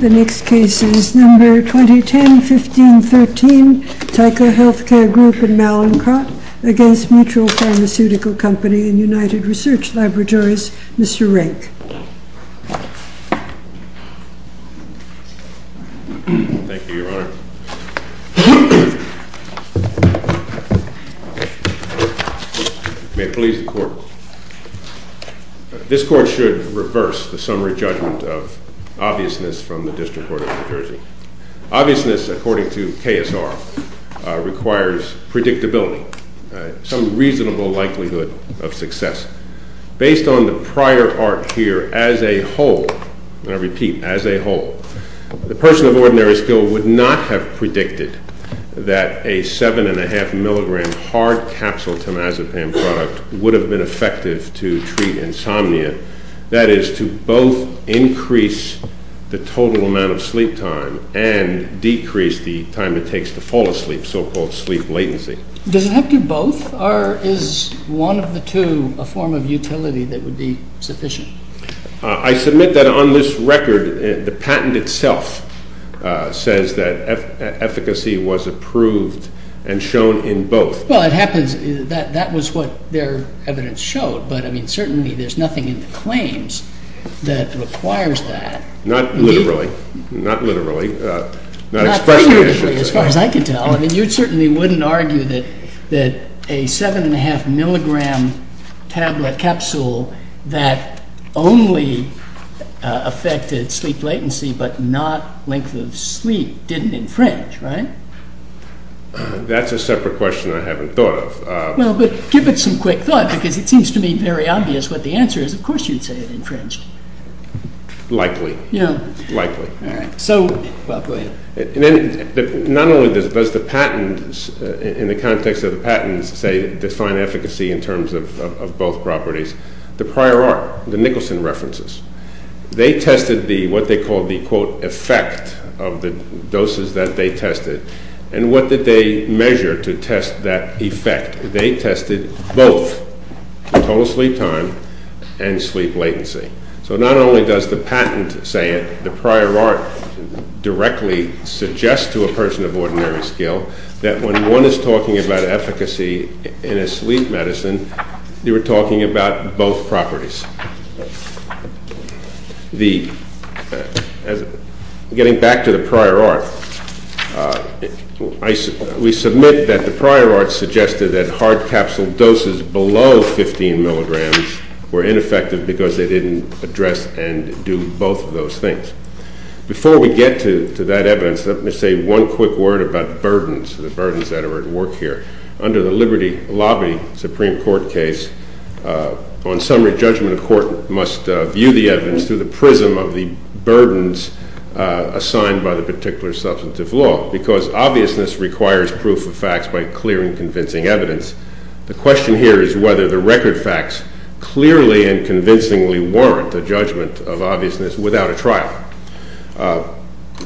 The next case is No. 2010-1513, Tyco Healthcare Group and Mallinckrodt against Mutual Pharmaceutical Company and United Research Laboratories. Mr. Rake. Thank you, Your Honor. May it please the court. This court should reverse the summary judgment of obviousness from the District Court of New Jersey. Obviousness, according to KSR, requires predictability, some reasonable likelihood of success. Based on the prior arc here, as a whole, and I repeat, as a whole, the person of ordinary skill would not have predicted that a 7.5 milligram hard capsule temazepam product would have been effective to treat insomnia. That is, to both increase the total amount of sleep time and decrease the time it takes to fall asleep, so-called sleep latency. Does it have to be both, or is one of the two a form of utility that would be sufficient? I submit that on this record, the patent itself says that efficacy was approved and shown in both. Well, it happens that that was what their evidence showed. But certainly, there's nothing in the claims that requires that. Not literally. Not literally. Not expressly, actually. As far as I can tell. I mean, you certainly wouldn't argue that a 7.5 milligram tablet capsule that only affected sleep latency, but not length of sleep, didn't infringe, right? That's a separate question I haven't thought of. Well, but give it some quick thought, because it seems to me very obvious what the answer is. Of course you'd say it infringed. Likely. Yeah. Likely. All right. So, Bob, go ahead. Not only does the patent, in the context of the patents, say define efficacy in terms of both properties. The prior art, the Nicholson references, they tested what they called the, quote, effect of the doses that they tested. And what did they measure to test that effect? They tested both total sleep time and sleep latency. So not only does the patent say it, the prior art directly suggests to a person of ordinary skill that when one is talking about efficacy in a sleep medicine, they were talking about both properties. Getting back to the prior art, we submit that the prior art suggested that hard capsule doses below 15 milligrams were ineffective because they didn't address and do both of those things. Before we get to that evidence, let me say one quick word about burdens, the burdens that are at work here. Under the Liberty Lobby Supreme Court case, on summary, judgment of court must view the evidence through the prism of the burdens assigned by the particular substantive law, because obviousness requires proof of facts by clear and convincing evidence. The question here is whether the record facts clearly and convincingly warrant a judgment of obviousness without a trial.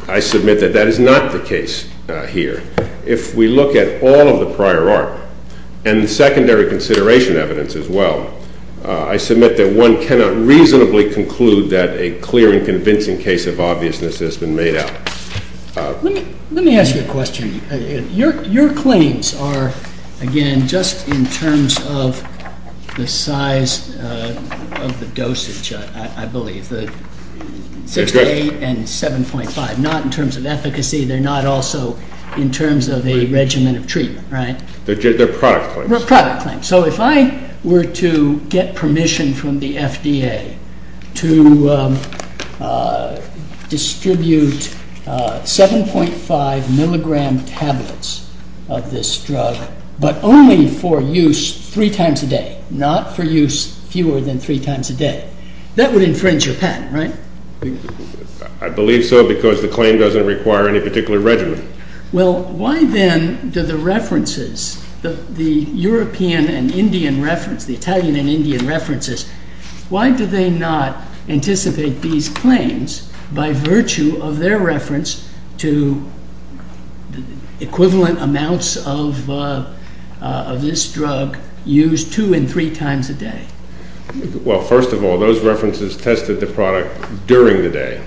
I submit that that is not the case here. If we look at all of the prior art, and the secondary consideration evidence as well, I submit that one cannot reasonably conclude that a clear and convincing case of obviousness has been made out. Let me ask you a question. Your claims are, again, just in terms of the size of the dosage, I believe, the 6.8 and 7.5. Not in terms of efficacy. They're not also in terms of a regimen of treatment, right? They're product claims. They're product claims. So if I were to get permission from the FDA to distribute 7.5 milligram tablets of this drug, but only for use three times a day, not for use fewer than three times a day, that would infringe your patent, right? I believe so, because the claim doesn't require any particular regimen. Well, why then do the references, the European and Indian reference, the Italian and Indian references, why do they not anticipate these claims by virtue of their reference to equivalent amounts of this drug used two and three times a day? Well, first of all, those references tested the product during the day,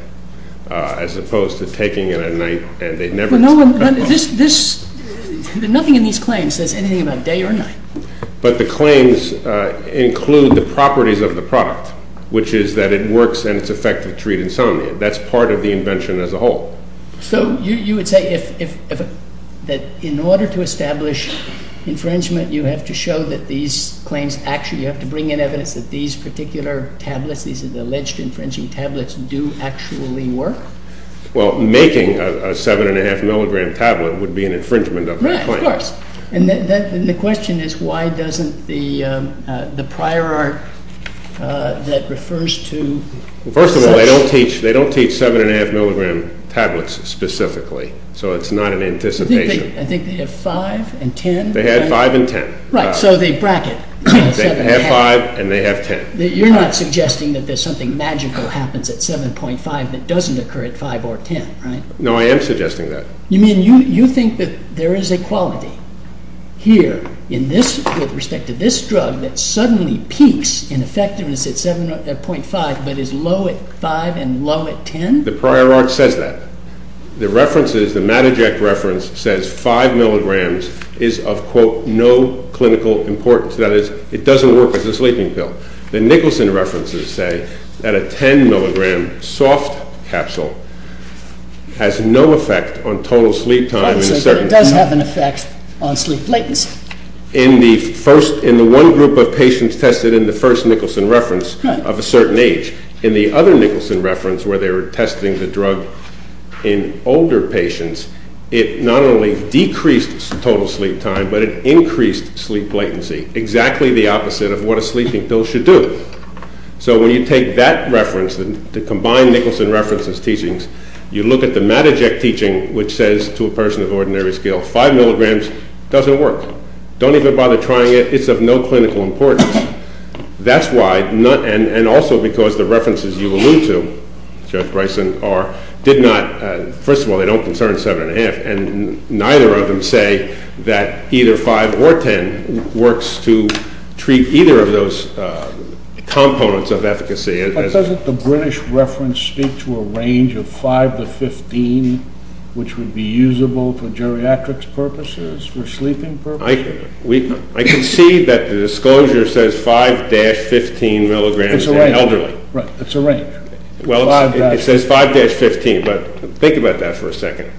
as opposed to taking it at night, and they never tested it at night. Nothing in these claims says anything about day or night. But the claims include the properties of the product, which is that it works and it's effective to treat insomnia. That's part of the invention as a whole. So you would say that in order to establish infringement, you have to show that these claims actually have to bring in evidence that these particular tablets, these alleged infringing tablets, do actually work? Well, making a 7.5 milligram tablet would be an infringement of the claim. Of course. And the question is, why doesn't the prior art that refers to? First of all, they don't teach 7.5 milligram tablets specifically. So it's not an anticipation. I think they have 5 and 10. They had 5 and 10. Right, so they bracket. They have 5 and they have 10. You're not suggesting that there's something magical happens at 7.5 that doesn't occur at 5 or 10, right? No, I am suggesting that. You mean you think that there is a quality here with respect to this drug that suddenly peaks in effectiveness at 7.5 but is low at 5 and low at 10? The prior art says that. The references, the Matajek reference, says 5 milligrams is of, quote, no clinical importance. That is, it doesn't work as a sleeping pill. The Nicholson references say that a 10 milligram soft capsule has no effect on total sleep time in a certain amount. Obviously, but it does have an effect on sleep latency. In the one group of patients tested in the first Nicholson reference of a certain age, in the other Nicholson reference where they were testing the drug in older patients, it not only decreased total sleep time, but it increased sleep latency. Exactly the opposite of what a sleeping pill should do. So when you take that reference, the combined Nicholson references teachings, you look at the Matajek teaching, which says to a person of ordinary skill, 5 milligrams doesn't work. Don't even bother trying it. It's of no clinical importance. That's why, and also because the references you allude to, Judge Bryson, did not, first of all, they don't concern 7.5, and neither of them say that either 5 or 10 works to treat either of those components of efficacy. But doesn't the British reference speak to a range of 5 to 15, which would be usable for geriatrics purposes, for sleeping purposes? I can see that the disclosure says 5-15 milligrams in elderly. It's a range. Well, it says 5-15, but think about that for a second.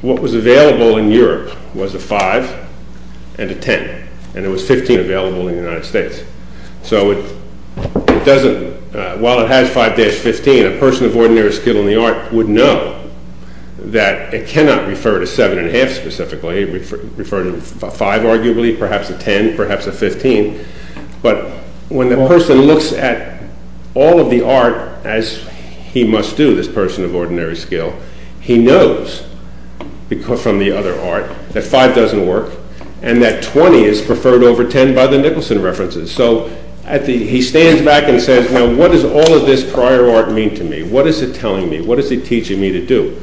What was available in Europe was a 5 and a 10, and there was 15 available in the United States. So while it has 5-15, a person of ordinary skill in the art would know that it cannot refer to 7.5 specifically, refer to 5 arguably, perhaps a 10, perhaps a 15. But when the person looks at all of the art, as he must do, this person of ordinary skill, he knows from the other art that 5 doesn't work, and that 20 is preferred over 10 by the Nicholson references. So he stands back and says, what does all of this prior art mean to me? What is it telling me? What is it teaching me to do?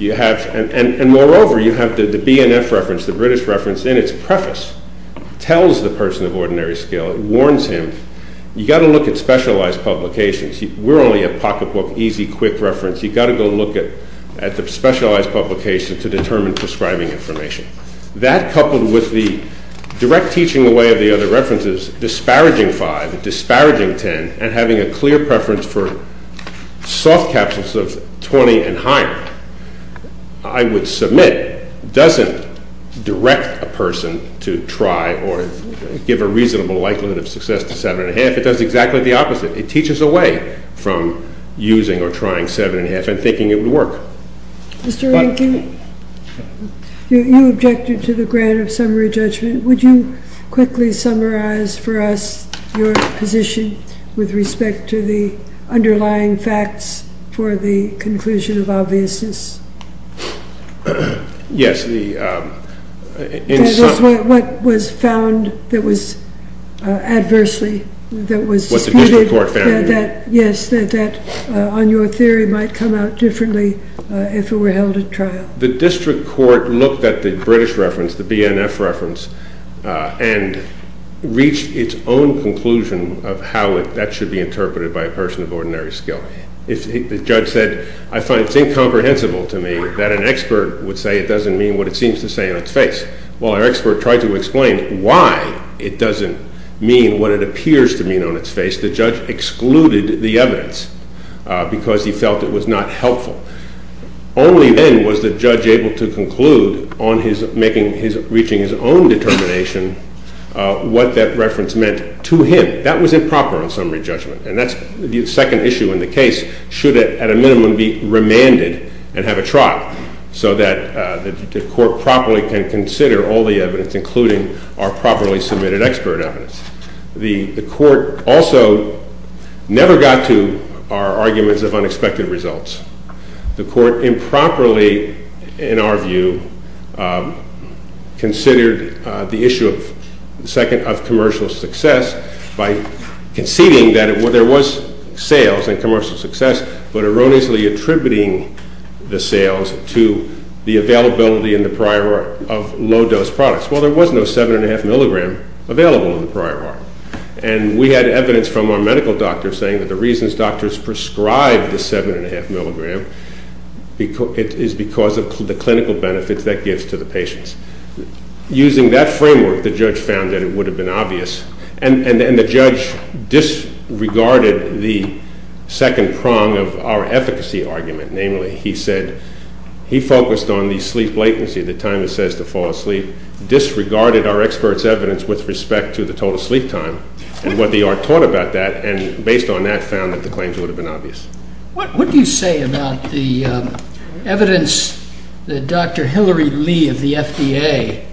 And moreover, you have the BNF reference, the British reference, in its preface, tells the person of ordinary skill, warns him, you've got to look at specialized publications. We're only a pocketbook, easy, quick reference. You've got to go look at the specialized publication to determine prescribing information. That, coupled with the direct teaching away of the other references, disparaging 5, disparaging 10, and having a clear preference for soft capsules of 20 and higher, I would submit, doesn't direct a person to try or give a reasonable likelihood of success to 7.5. It does exactly the opposite. It teaches away from using or trying 7.5 and thinking it would work. Mr. Rankin, you objected to the grant of summary judgment. Would you quickly summarize for us your position with respect to the underlying facts for the conclusion of obviousness? Yes, the, in some. What was found that was adversely, that was. What the district court found. Yes, that on your theory might come out differently if it were held at trial. The district court looked at the British reference, the BNF reference, and reached its own conclusion of how that should be interpreted by a person of ordinary skill. If the judge said, I find it's incomprehensible to me that an expert would say it doesn't mean what it seems to say on its face. Well, our expert tried to explain why it doesn't mean what it appears to mean on its face. The judge excluded the evidence because he felt it was not helpful. Only then was the judge able to conclude on reaching his own determination what that reference meant to him. That was improper on summary judgment. And that's the second issue in the case. Should it, at a minimum, be remanded and have a trial so that the court properly can consider all the evidence, including our properly submitted expert evidence. The court also never got to our arguments of unexpected results. The court improperly, in our view, considered the issue of commercial success by conceding that there was sales and commercial success, but erroneously attributing the sales to the availability in the prior of low-dose products. Well, there was no 7 and 1 half milligram available in the prior art. And we had evidence from our medical doctor saying that the reasons doctors prescribed the 7 and 1 half milligram is because of the clinical benefits that gives to the patients. Using that framework, the judge found that it would have been obvious. And the judge disregarded the second prong of our efficacy argument. Namely, he said he focused on the sleep latency, the time it says to fall asleep, disregarded our expert's evidence with respect to the total sleep time and what the art taught about that, and based on that, found that the claims would have been obvious. What do you say about the evidence that Dr. Hillary Lee of the FDA,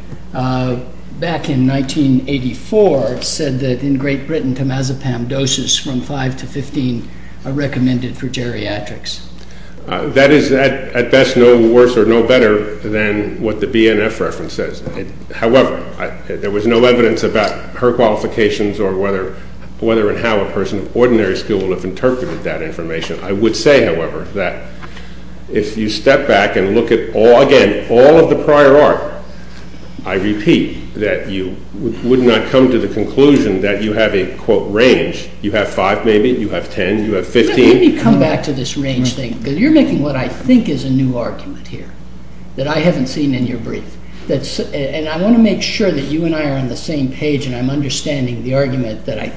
back in 1984, said that in Great Britain, Tamazepam doses from 5 to 15 are recommended for geriatrics? That is, at best, no worse or no better than what the BNF reference says. However, there was no evidence about her qualifications or whether and how a person of ordinary skill would have interpreted that information. I would say, however, that if you step back and look at all, again, all of the prior art, I repeat that you would not come to the conclusion that you have a, quote, range. You have 5, maybe. You have 10. You have 15. Let me come back to this range thing, because you're making what I think is a new argument here that I haven't seen in your brief. And I want to make sure that you and I are on the same page, and I'm understanding the argument that I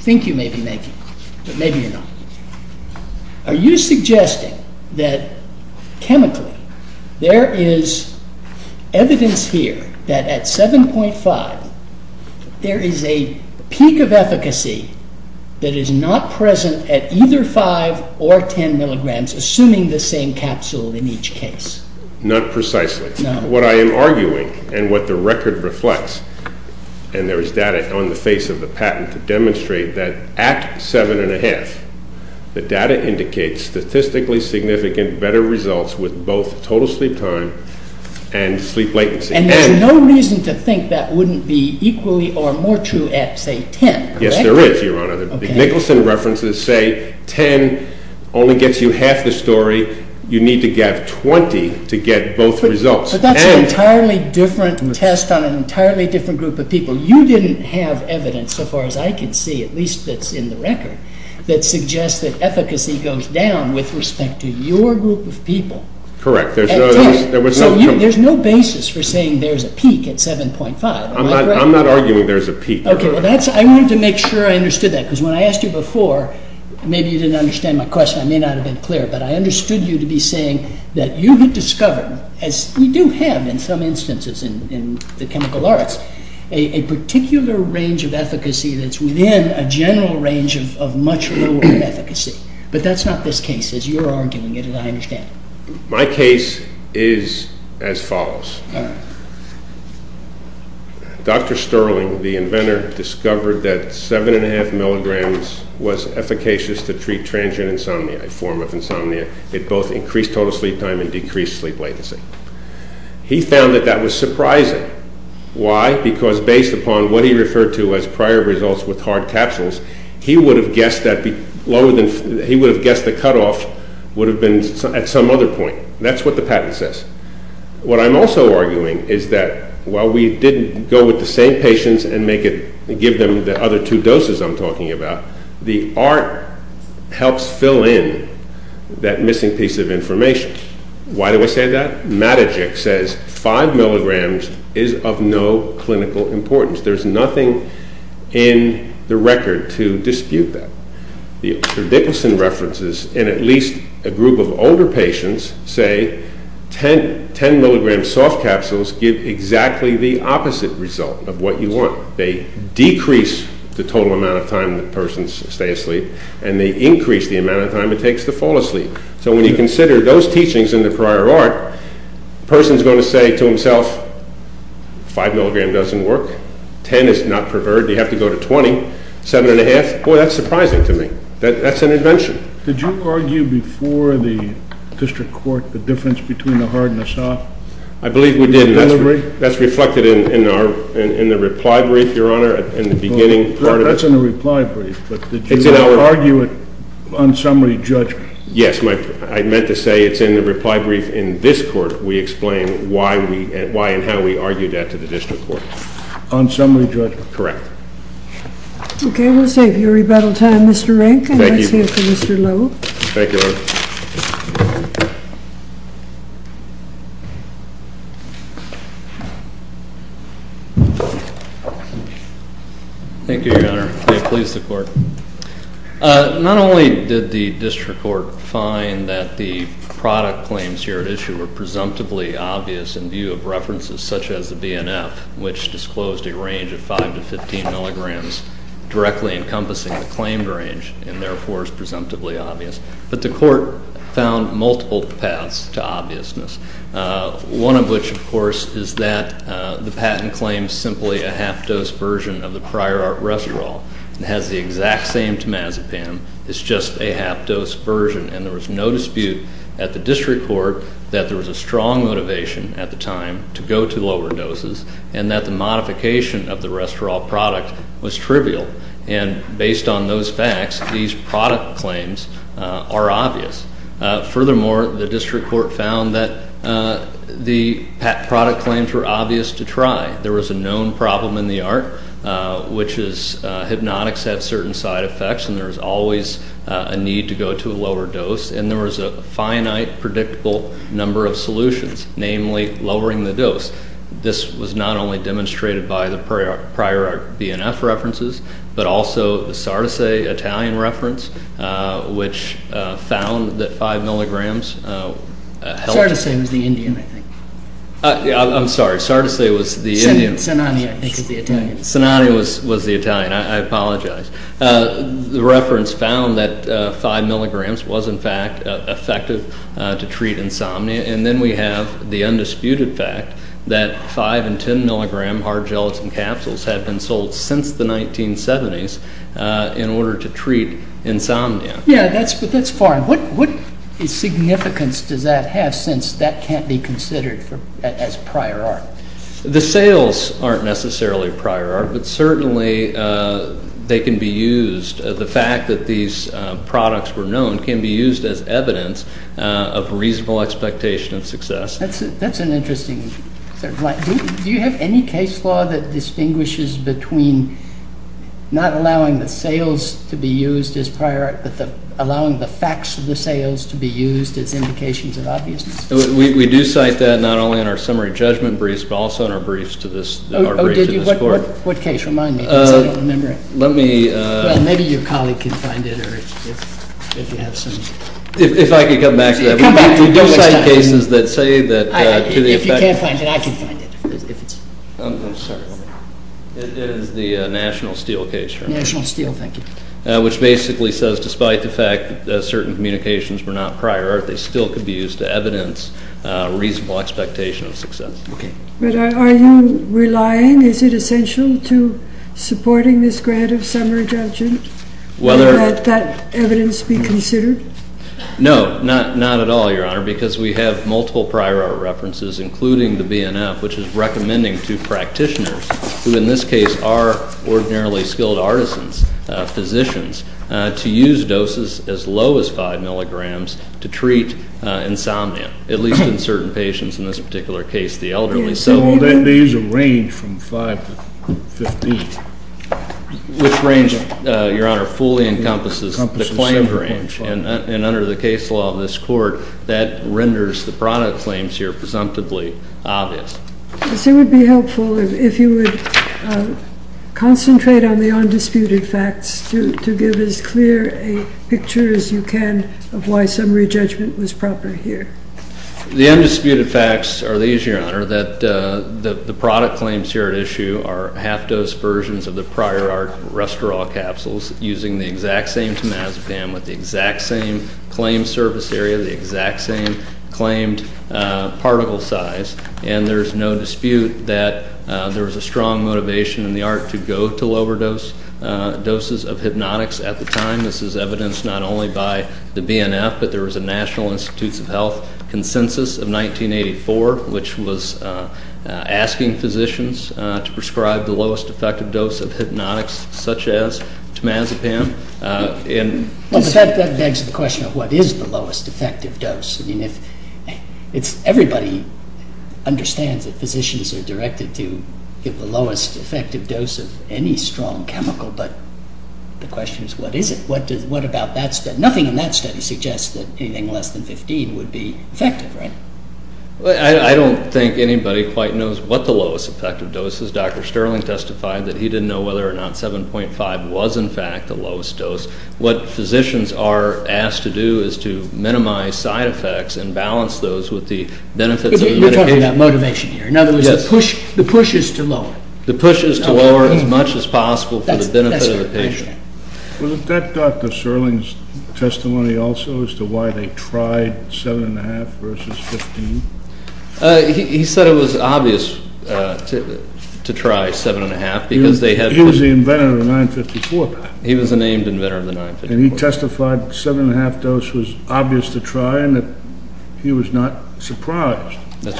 think you may be making, but maybe you're not. Are you suggesting that, chemically, there is evidence here that at 7.5, there is a peak of efficacy that is not present at either 5 or 10 milligrams, assuming the same capsule in each case? Not precisely. What I am arguing, and what the record reflects, and there is data on the face of the patent to demonstrate that at 7.5, the data indicates statistically significant better results with both total sleep time and sleep latency. And there's no reason to think that wouldn't be equally or more true at, say, 10, correct? Yes, there is, Your Honor. The Nicholson references say 10 only gets you half the story. You need to get 20 to get both results. But that's an entirely different test on an entirely different group of people. You didn't have evidence, so far as I can see, at least that's in the record, that suggests that efficacy goes down with respect to your group of people. Correct. There was no comparison. So there's no basis for saying there's a peak at 7.5. I'm not arguing there's a peak. OK, well, I wanted to make sure I understood that, because when I asked you before, maybe you didn't understand my question. I may not have been clear. But I understood you to be saying that you had discovered, as we do have in some instances in the chemical arts, a particular range of efficacy that's within a general range of much lower efficacy. But that's not this case, as you're arguing it, and I understand it. My case is as follows. Dr. Sterling, the inventor, discovered that 7.5 milligrams was efficacious to treat transient insomnia, a form of insomnia. It both increased total sleep time and decreased sleep latency. He found that that was surprising. Why? Because based upon what he referred to as prior results with hard capsules, he would have guessed the cutoff would have been at some other point. That's what the patent says. What I'm also arguing is that, while we didn't go with the same patients and give them the other two doses I'm talking about, the art helps fill in that missing piece of information. Why do I say that? Matajik says 5 milligrams is of no clinical importance. There's nothing in the record to dispute that. The Dickinson references, in at least a group of older patients, say 10 milligram soft capsules give exactly the opposite result of what you want. They decrease the total amount of time that persons stay asleep, and they increase the amount of time it takes to fall asleep. So when you consider those teachings in the prior art, person's going to say to himself, 5 milligram doesn't work. 10 is not preferred. You have to go to 20. 7.5, boy, that's surprising to me. That's an invention. Did you argue before the district court the difference between the hard and the soft? I believe we did. That's reflected in the reply brief, Your Honor, in the beginning part of it. That's in the reply brief. But did you argue it on summary judgment? Yes. I meant to say it's in the reply brief in this court we explain why and how we argued that to the district court. On summary judgment? Correct. OK, we'll save your rebuttal time, Mr. Rankin. Thank you. Let's hear from Mr. Lowe. Thank you, Your Honor. Thank you, Your Honor. May it please the court. Not only did the district court find that the product claims here at issue were presumptively obvious in view of references such as the BNF, which disclosed a range of 5 to 15 milligrams directly encompassing the claimed range, and therefore is presumptively obvious. one of which, of course, is that the BNF is that the patent claims simply a half dose version of the prior art restaurant. It has the exact same temazepam. It's just a half dose version. And there was no dispute at the district court that there was a strong motivation at the time to go to lower doses, and that the modification of the restaurant product was trivial. And based on those facts, these product claims are obvious. Furthermore, the district court found that the product claims were obvious to try. There was a known problem in the art, which is hypnotics have certain side effects, and there's always a need to go to a lower dose. And there was a finite, predictable number of solutions, namely lowering the dose. This was not only demonstrated by the prior art BNF references, but also the Sardise Italian reference, which found that 5 milligrams helped Sardise was the Indian, I think. I'm sorry. Sardise was the Indian. Sinani, I think, is the Italian. Sinani was the Italian. I apologize. The reference found that 5 milligrams was, in fact, effective to treat insomnia. And then we have the undisputed fact that 5 and 10 milligram hard gelatin capsules had been sold since the 1970s in order to treat insomnia. Yeah, but that's foreign. What significance does that have, since that can't be considered as prior art? The sales aren't necessarily prior art, but certainly they can be used. The fact that these products were known can be used as evidence of reasonable expectation of success. That's an interesting sort of line. Do you have any case law that distinguishes between not allowing the sales to be used as prior art, but allowing the facts of the sales to be used as indications of obviousness? We do cite that, not only in our summary judgment briefs, but also in our briefs to this court. What case? Remind me, because I don't remember it. Maybe your colleague can find it, or if you have some. If I could come back to that. We do cite cases that say that, to the effect of. If you can't find it, I can find it, if it's. I'm sorry. It is the National Steel case, right? National Steel, thank you. Which basically says, despite the fact that certain communications were not prior art, they still could be used to evidence reasonable expectation of success. But are you relying? Is it essential to supporting this grant of summary judgment? Whether. That evidence be considered? No, not at all, Your Honor, because we have multiple prior art references, including the BNF, which is recommending to practitioners, who in this case are ordinarily skilled artisans, physicians, to use doses as low as 5 milligrams to treat insomnia, at least in certain patients, in this particular case, the elderly. So there is a range from 5 to 15. Which range, Your Honor, fully encompasses the claimed range. And under the case law of this court, that renders the product claims here presumptively obvious. Yes, it would be helpful if you would concentrate on the undisputed facts to give as clear a picture as you can of why summary judgment was proper here. The undisputed facts are these, Your Honor, that the product claims here at issue are half-dose versions of the prior art restaurant capsules using the exact same temazepam with the exact same claimed surface area, the exact same claimed particle size. And there's no dispute that there was a strong motivation in the art to go to lower doses of hypnotics at the time. This is evidenced not only by the BNF, but there was a National Institutes of Health consensus of 1984, which was asking physicians to prescribe the lowest effective dose of hypnotics, such as temazepam. That begs the question, what is the lowest effective dose? I mean, everybody understands that physicians are directed to give the lowest effective dose of any strong chemical. But the question is, what is it? What about that study? Nothing in that study suggests that anything less than 15 would be effective, right? I don't think anybody quite knows what the lowest effective dose is. Dr. Sterling testified that he didn't know whether or not 7.5 was, in fact, the lowest dose. What physicians are asked to do is to minimize side effects and balance those with the benefits of the medication. You're talking about motivation here. In other words, the push is to lower. The push is to lower as much as possible for the benefit of the patient. Was that Dr. Sterling's testimony also as to why they tried 7.5 versus 15? He said it was obvious to try 7.5, because they had to. He was the inventor of the 954 patent. He was the named inventor of the 954. And he testified 7.5 dose was obvious to try and that he was not surprised that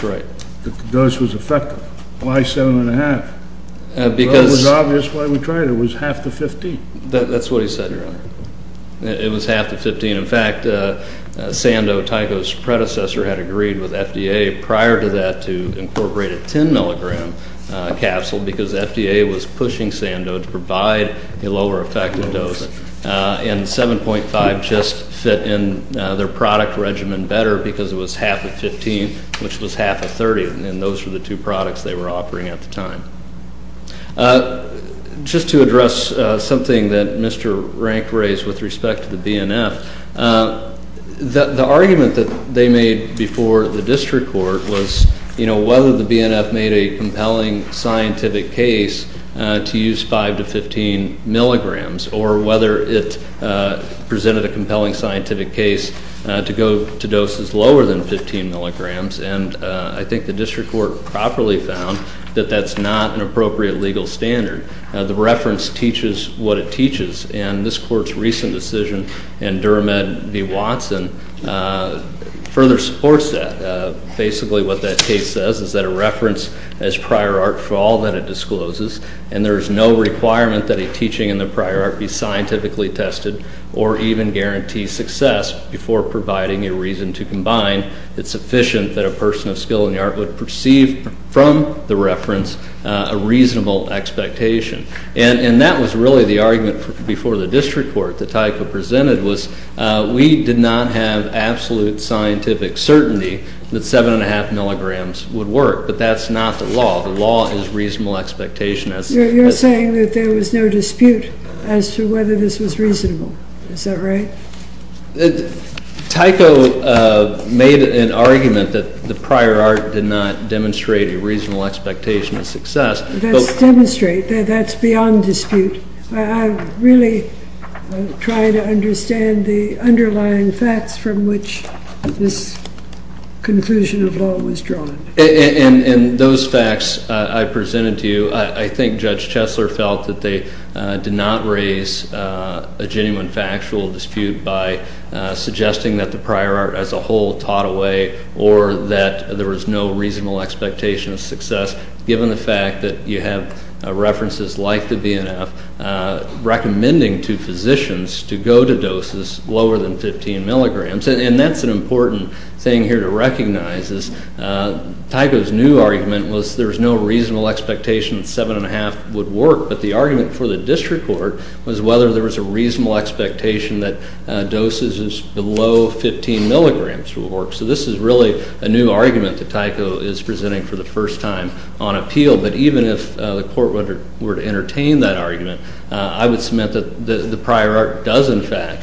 the dose was effective. Why 7.5? Because it was obvious why we tried it. It was half to 15. That's what he said, Your Honor. It was half to 15. In fact, Sandow, Tyco's predecessor, had agreed with FDA prior to that to incorporate a 10 milligram capsule, because FDA was pushing Sandow to provide a lower effective dose. And 7.5 just fit in their product regimen better, because it was half of 15, which was half of 30. And those were the two products they were offering at the time. Just to address something that Mr. Rank raised with respect to the BNF, the argument that they made before the district court was whether the BNF made a compelling scientific case to use 5 to 15 milligrams, or whether it presented a compelling scientific case to go to doses lower than 15 milligrams. And I think the district court properly found that that's not an appropriate legal standard. The reference teaches what it teaches. And this court's recent decision in Durham v. Watson further supports that. Basically, what that case says is that a reference as prior art, for all that it discloses, and there is no requirement that a teaching in the prior art be scientifically tested, or even guarantee success before providing a reason to combine, it's sufficient that a person of skill in the art would perceive from the reference a reasonable expectation. And that was really the argument before the district court that Tyco presented, was we did not have absolute scientific certainty that 7 and 1 half milligrams would work. But that's not the law. The law is reasonable expectation. You're saying that there was no dispute as to whether this was reasonable. Is that right? Tyco made an argument that the prior art did not demonstrate a reasonable expectation of success. That's demonstrate. That's beyond dispute. I really try to understand the underlying facts from which this conclusion of law was drawn. And those facts I presented to you, I think Judge Chesler felt that they did not raise a genuine factual dispute by suggesting that the prior art as a whole taught away, or that there was no reasonable expectation of success, given the fact that you have references like the BNF recommending to physicians to go to doses lower than 15 milligrams. And that's an important thing here to recognize, is Tyco's new argument was there's no reasonable expectation that 7 and 1 half would work. But the argument for the district court was whether there was a reasonable expectation that doses below 15 milligrams would work. So this is really a new argument that Tyco is presenting for the first time on appeal. But even if the court were to entertain that argument, I would submit that the prior art does, in fact,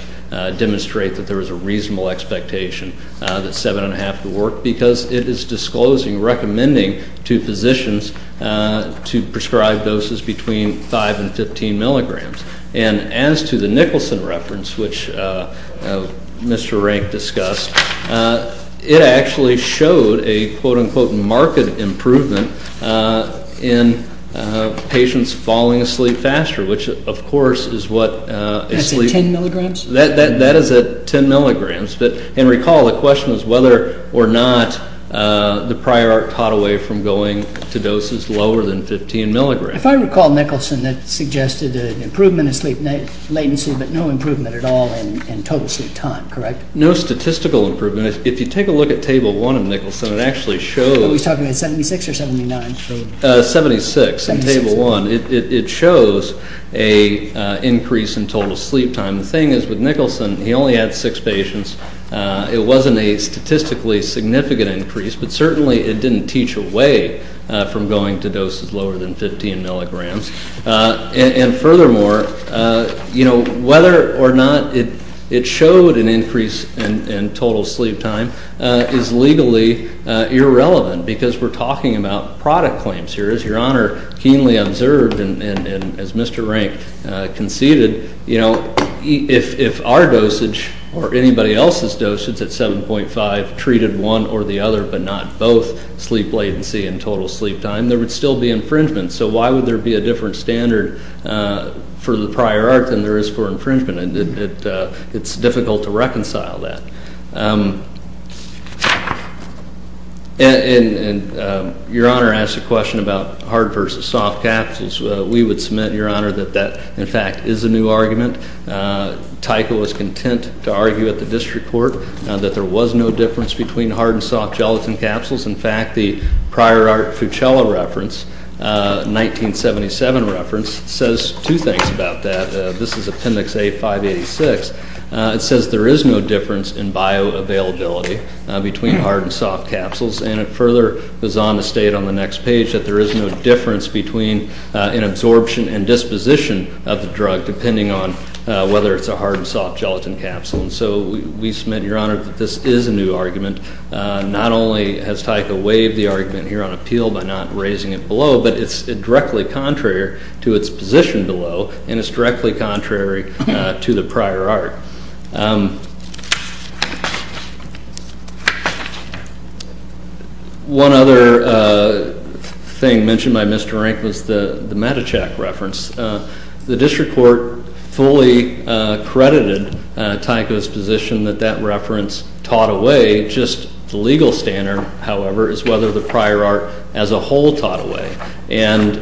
demonstrate that there was a reasonable expectation that 7 and 1 half would work, because it is disclosing, recommending to physicians to prescribe doses between 5 and 15 milligrams. And as to the Nicholson reference, which Mr. Rank discussed, it actually showed a quote, unquote, market improvement in patients falling asleep faster, which, of course, is what a sleep. That's at 10 milligrams? That is at 10 milligrams. But, and recall, the question was whether or not the prior art taught away from going to doses lower than 15 milligrams. If I recall, Nicholson, that suggested an improvement in sleep latency, but no improvement at all in total sleep time, correct? No statistical improvement. If you take a look at table one of Nicholson, it actually shows. What was he talking about, 76 or 79? 76 in table one. It shows a increase in total sleep time. The thing is, with Nicholson, he only had six patients. It wasn't a statistically significant increase, but certainly it didn't teach away from going to doses lower than 15 milligrams. And furthermore, whether or not it showed an increase in total sleep time is legally irrelevant, because we're talking about product claims here. As Your Honor keenly observed, and as Mr. Rank conceded, you know, if our dosage, or anybody else's dosage at 7.5 treated one or the other, but not both sleep latency and total sleep time, there would still be infringement. So why would there be a different standard for the prior art than there is for infringement? It's difficult to reconcile that. And Your Honor asked a question about hard versus soft capsules. We would submit, Your Honor, that that, in fact, is a new argument. Tyco was content to argue at the district court that there was no difference between hard and soft gelatin capsules. In fact, the prior art Fucella reference, 1977 reference, says two things about that. This is appendix A586. It says there is no difference in bioavailability between hard and soft capsules. And it further goes on to state on the next page that there is no difference between an absorption and disposition of the drug, depending on whether it's a hard and soft gelatin capsule. And so we submit, Your Honor, that this is a new argument. Not only has Tyco waived the argument here on appeal by not raising it below, but it's directly contrary to its position below, and it's directly contrary to the prior art. One other thing mentioned by Mr. Rank was the Medichak reference. The district court fully credited Tyco's position that that reference taught away. Just the legal standard, however, is whether the prior art as a whole taught away. And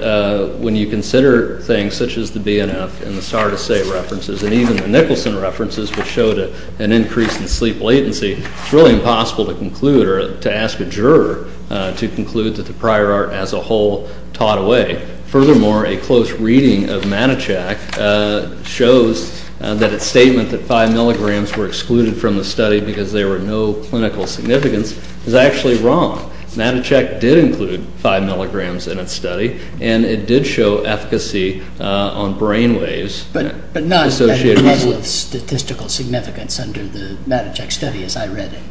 when you consider things such as the BNF and the Sardisay references, and even the Nicholson references which showed an increase in sleep latency, it's really impossible to conclude or to ask a juror to conclude that the prior art as a whole taught away. Furthermore, a close reading of Medichak shows that its statement that five milligrams were excluded from the study because there were no clinical significance is actually wrong. Medichak did include five milligrams in its study, and it did show efficacy on brainwaves. But not with statistical significance under the Medichak study as I read it.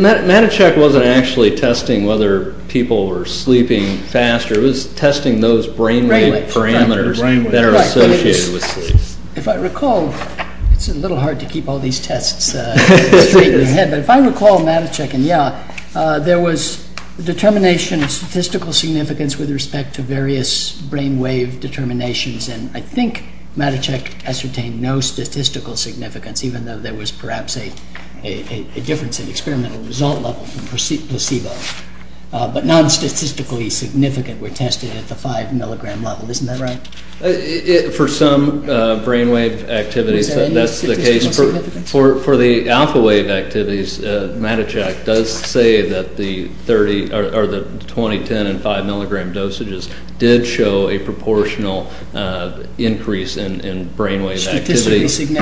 Medichak wasn't actually testing whether people were sleeping faster. It was testing those brainwave parameters that are associated with sleep. If I recall, it's a little hard but if I recall Medichak and Yaw, there was determination of statistical significance with respect to various brainwave determinations. And I think Medichak ascertained no statistical significance, even though there was perhaps a difference in experimental result level from placebo. But non-statistically significant were tested at the five milligram level. Isn't that right? For some brainwave activities, that's the case. For the alpha wave activities, Medichak does say that the 20, 10 and five milligram dosages did show a proportional increase in brainwave activity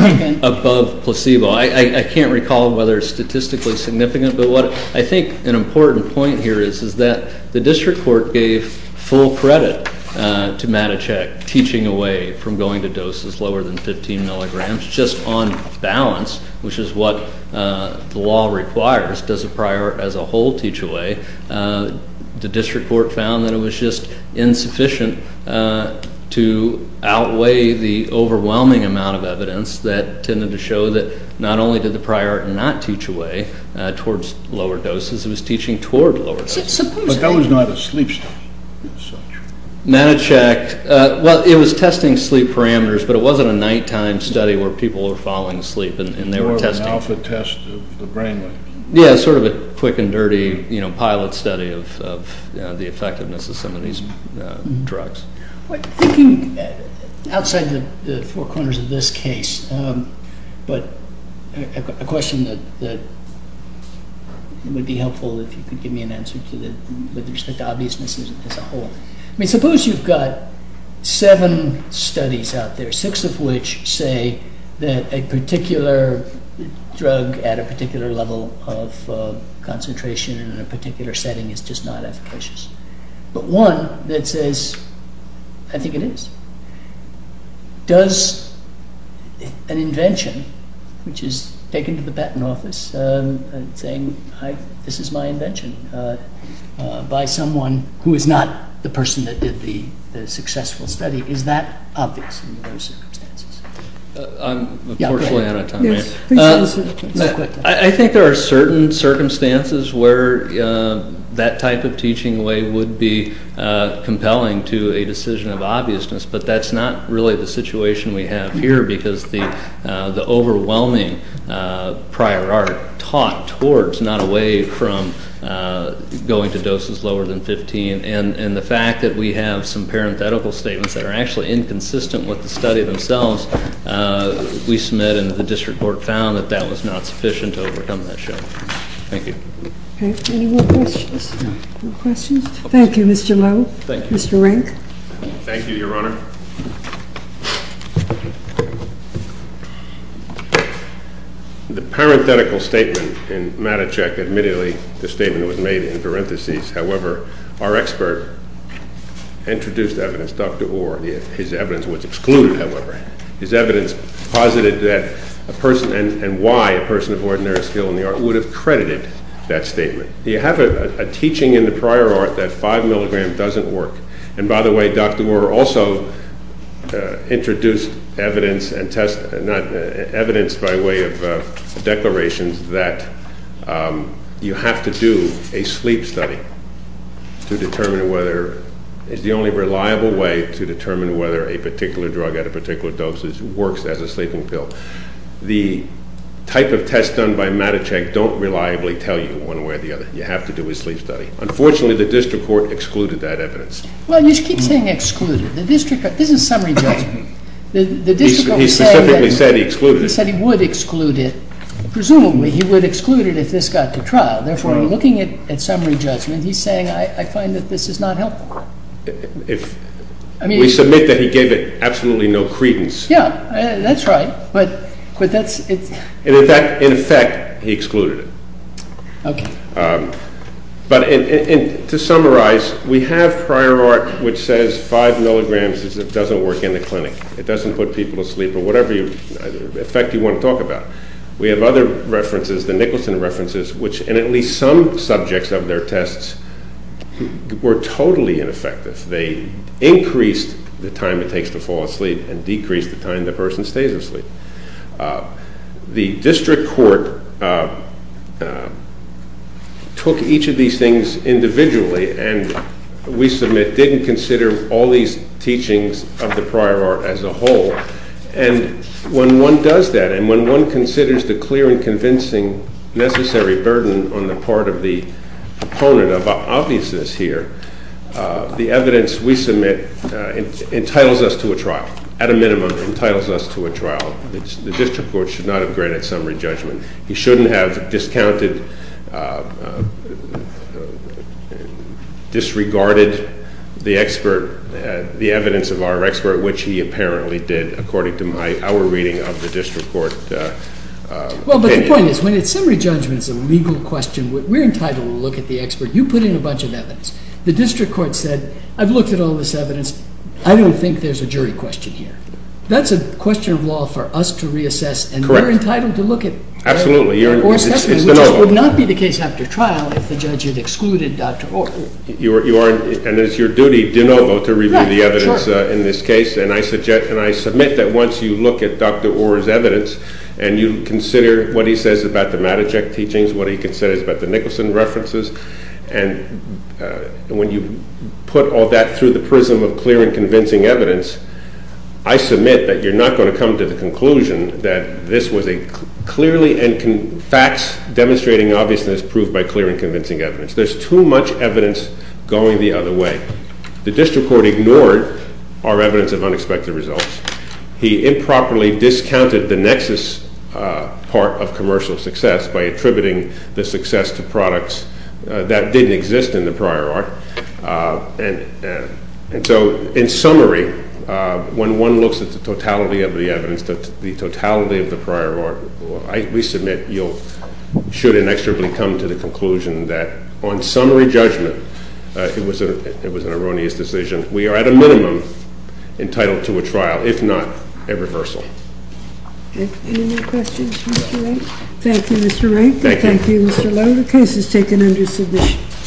above placebo. I can't recall whether statistically significant but what I think an important point here is is that the district court gave full credit to Medichak teaching away from going to doses lower than 15 milligrams just on balance, which is what the law requires. Does the prior as a whole teach away? The district court found that it was just insufficient to outweigh the overwhelming amount of evidence that tended to show that not only did the prior not teach away towards lower doses, it was teaching toward lower doses. But that was not a sleep study. Medichak, well, it was testing sleep parameters but it wasn't a nighttime study where people were falling asleep and they were testing. There were alpha tests of the brainwaves. Yeah, sort of a quick and dirty pilot study of the effectiveness of some of these drugs. Outside the four corners of this case, but I've got a question that would be helpful if you could give me an answer with respect to obviousness as a whole. I mean, suppose you've got seven studies out there, six of which say that a particular drug at a particular level of concentration in a particular setting is just not efficacious. But one that says, I think it is. Does an invention, which is taken to the patent office saying, this is my invention by someone who is not the person that did the successful study, is that obvious in those circumstances? Yeah, go ahead. I'm unfortunately out of time. I think there are certain circumstances where that type of teaching way would be compelling to a decision of obviousness, but that's not really the situation we have here because the overwhelming prior art taught towards, not away from going to doses lower than 15 and the fact that we have some parenthetical statements that are actually inconsistent with the study themselves, we submit and the district court found that that was not sufficient to overcome that shock. Thank you. Okay, any more questions? No questions? Thank you, Mr. Lowe. Thank you. Mr. Rank. Thank you, Your Honor. The parenthetical statement in MATA check admittedly the statement was made in parentheses. However, our expert introduced evidence, Dr. Orr. His evidence was excluded, however. His evidence posited that a person and why a person of ordinary skill in the art would have credited that statement. You have a teaching in the prior art that five milligram doesn't work. And by the way, Dr. Orr also introduced evidence and test, not evidence by way of declarations that you have to do a sleep study to determine whether it's the only reliable way to determine whether a particular drug at a particular dosage works as a sleeping pill. The type of tests done by MATA check don't reliably tell you one way or the other. You have to do a sleep study. Unfortunately, the district court excluded that evidence. Well, you just keep saying excluded. The district, this is summary judgment. The district court said. He specifically said he excluded it. Presumably, he would exclude it if this got to trial. Therefore, looking at summary judgment, he's saying, I find that this is not helpful. We submit that he gave it absolutely no credence. Yeah, that's right. But that's it. In effect, he excluded it. But to summarize, we have prior art which says five milligrams doesn't work in the clinic. It doesn't put people to sleep or whatever effect you want to talk about. We have other references, the Nicholson references, which in at least some subjects of their tests were totally ineffective. They increased the time it takes to fall asleep and decreased the time the person stays asleep. The district court took each of these things individually and we submit didn't consider all these teachings of the prior art as a whole. And when one does that and when one considers the clear and convincing necessary burden on the part of the opponent of obviousness here, the evidence we submit entitles us to a trial, at a minimum, entitles us to a trial. The district court should not have granted summary judgment. He shouldn't have discounted, disregarded the expert, the evidence of our expert, which he apparently did, according to our reading of the district court opinion. Well, but the point is, when it's summary judgment's a legal question, we're entitled to look at the expert. You put in a bunch of evidence. The district court said, I've looked at all this evidence. I don't think there's a jury question here. That's a question of law for us to reassess and we're entitled to look at it. Absolutely. Or assess it, which would not be the case after trial if the judge had excluded Dr. Orr. You are, and it's your duty, de novo, to review the evidence in this case. And I submit that once you look at Dr. Orr's evidence and you consider what he says about the Matochek teachings, what he considers about the Nicholson references, and when you put all that through the prism of clear and convincing evidence, I submit that you're not gonna come to the conclusion that this was a clearly and facts demonstrating obviousness proved by clear and convincing evidence. There's too much evidence going the other way. The district court ignored our evidence of unexpected results. He improperly discounted the nexus part of commercial success by attributing the success to products that didn't exist in the prior art. And so, in summary, when one looks at the totality of the evidence, the totality of the prior art, I resubmit you should inexorably come to the conclusion that, on summary judgment, it was an erroneous decision. We are, at a minimum, entitled to a trial, if not, a reversal. Any more questions, Mr. Rank? Thank you, Mr. Rank. Thank you. Thank you, Mr. Lowe. The case is taken under submission.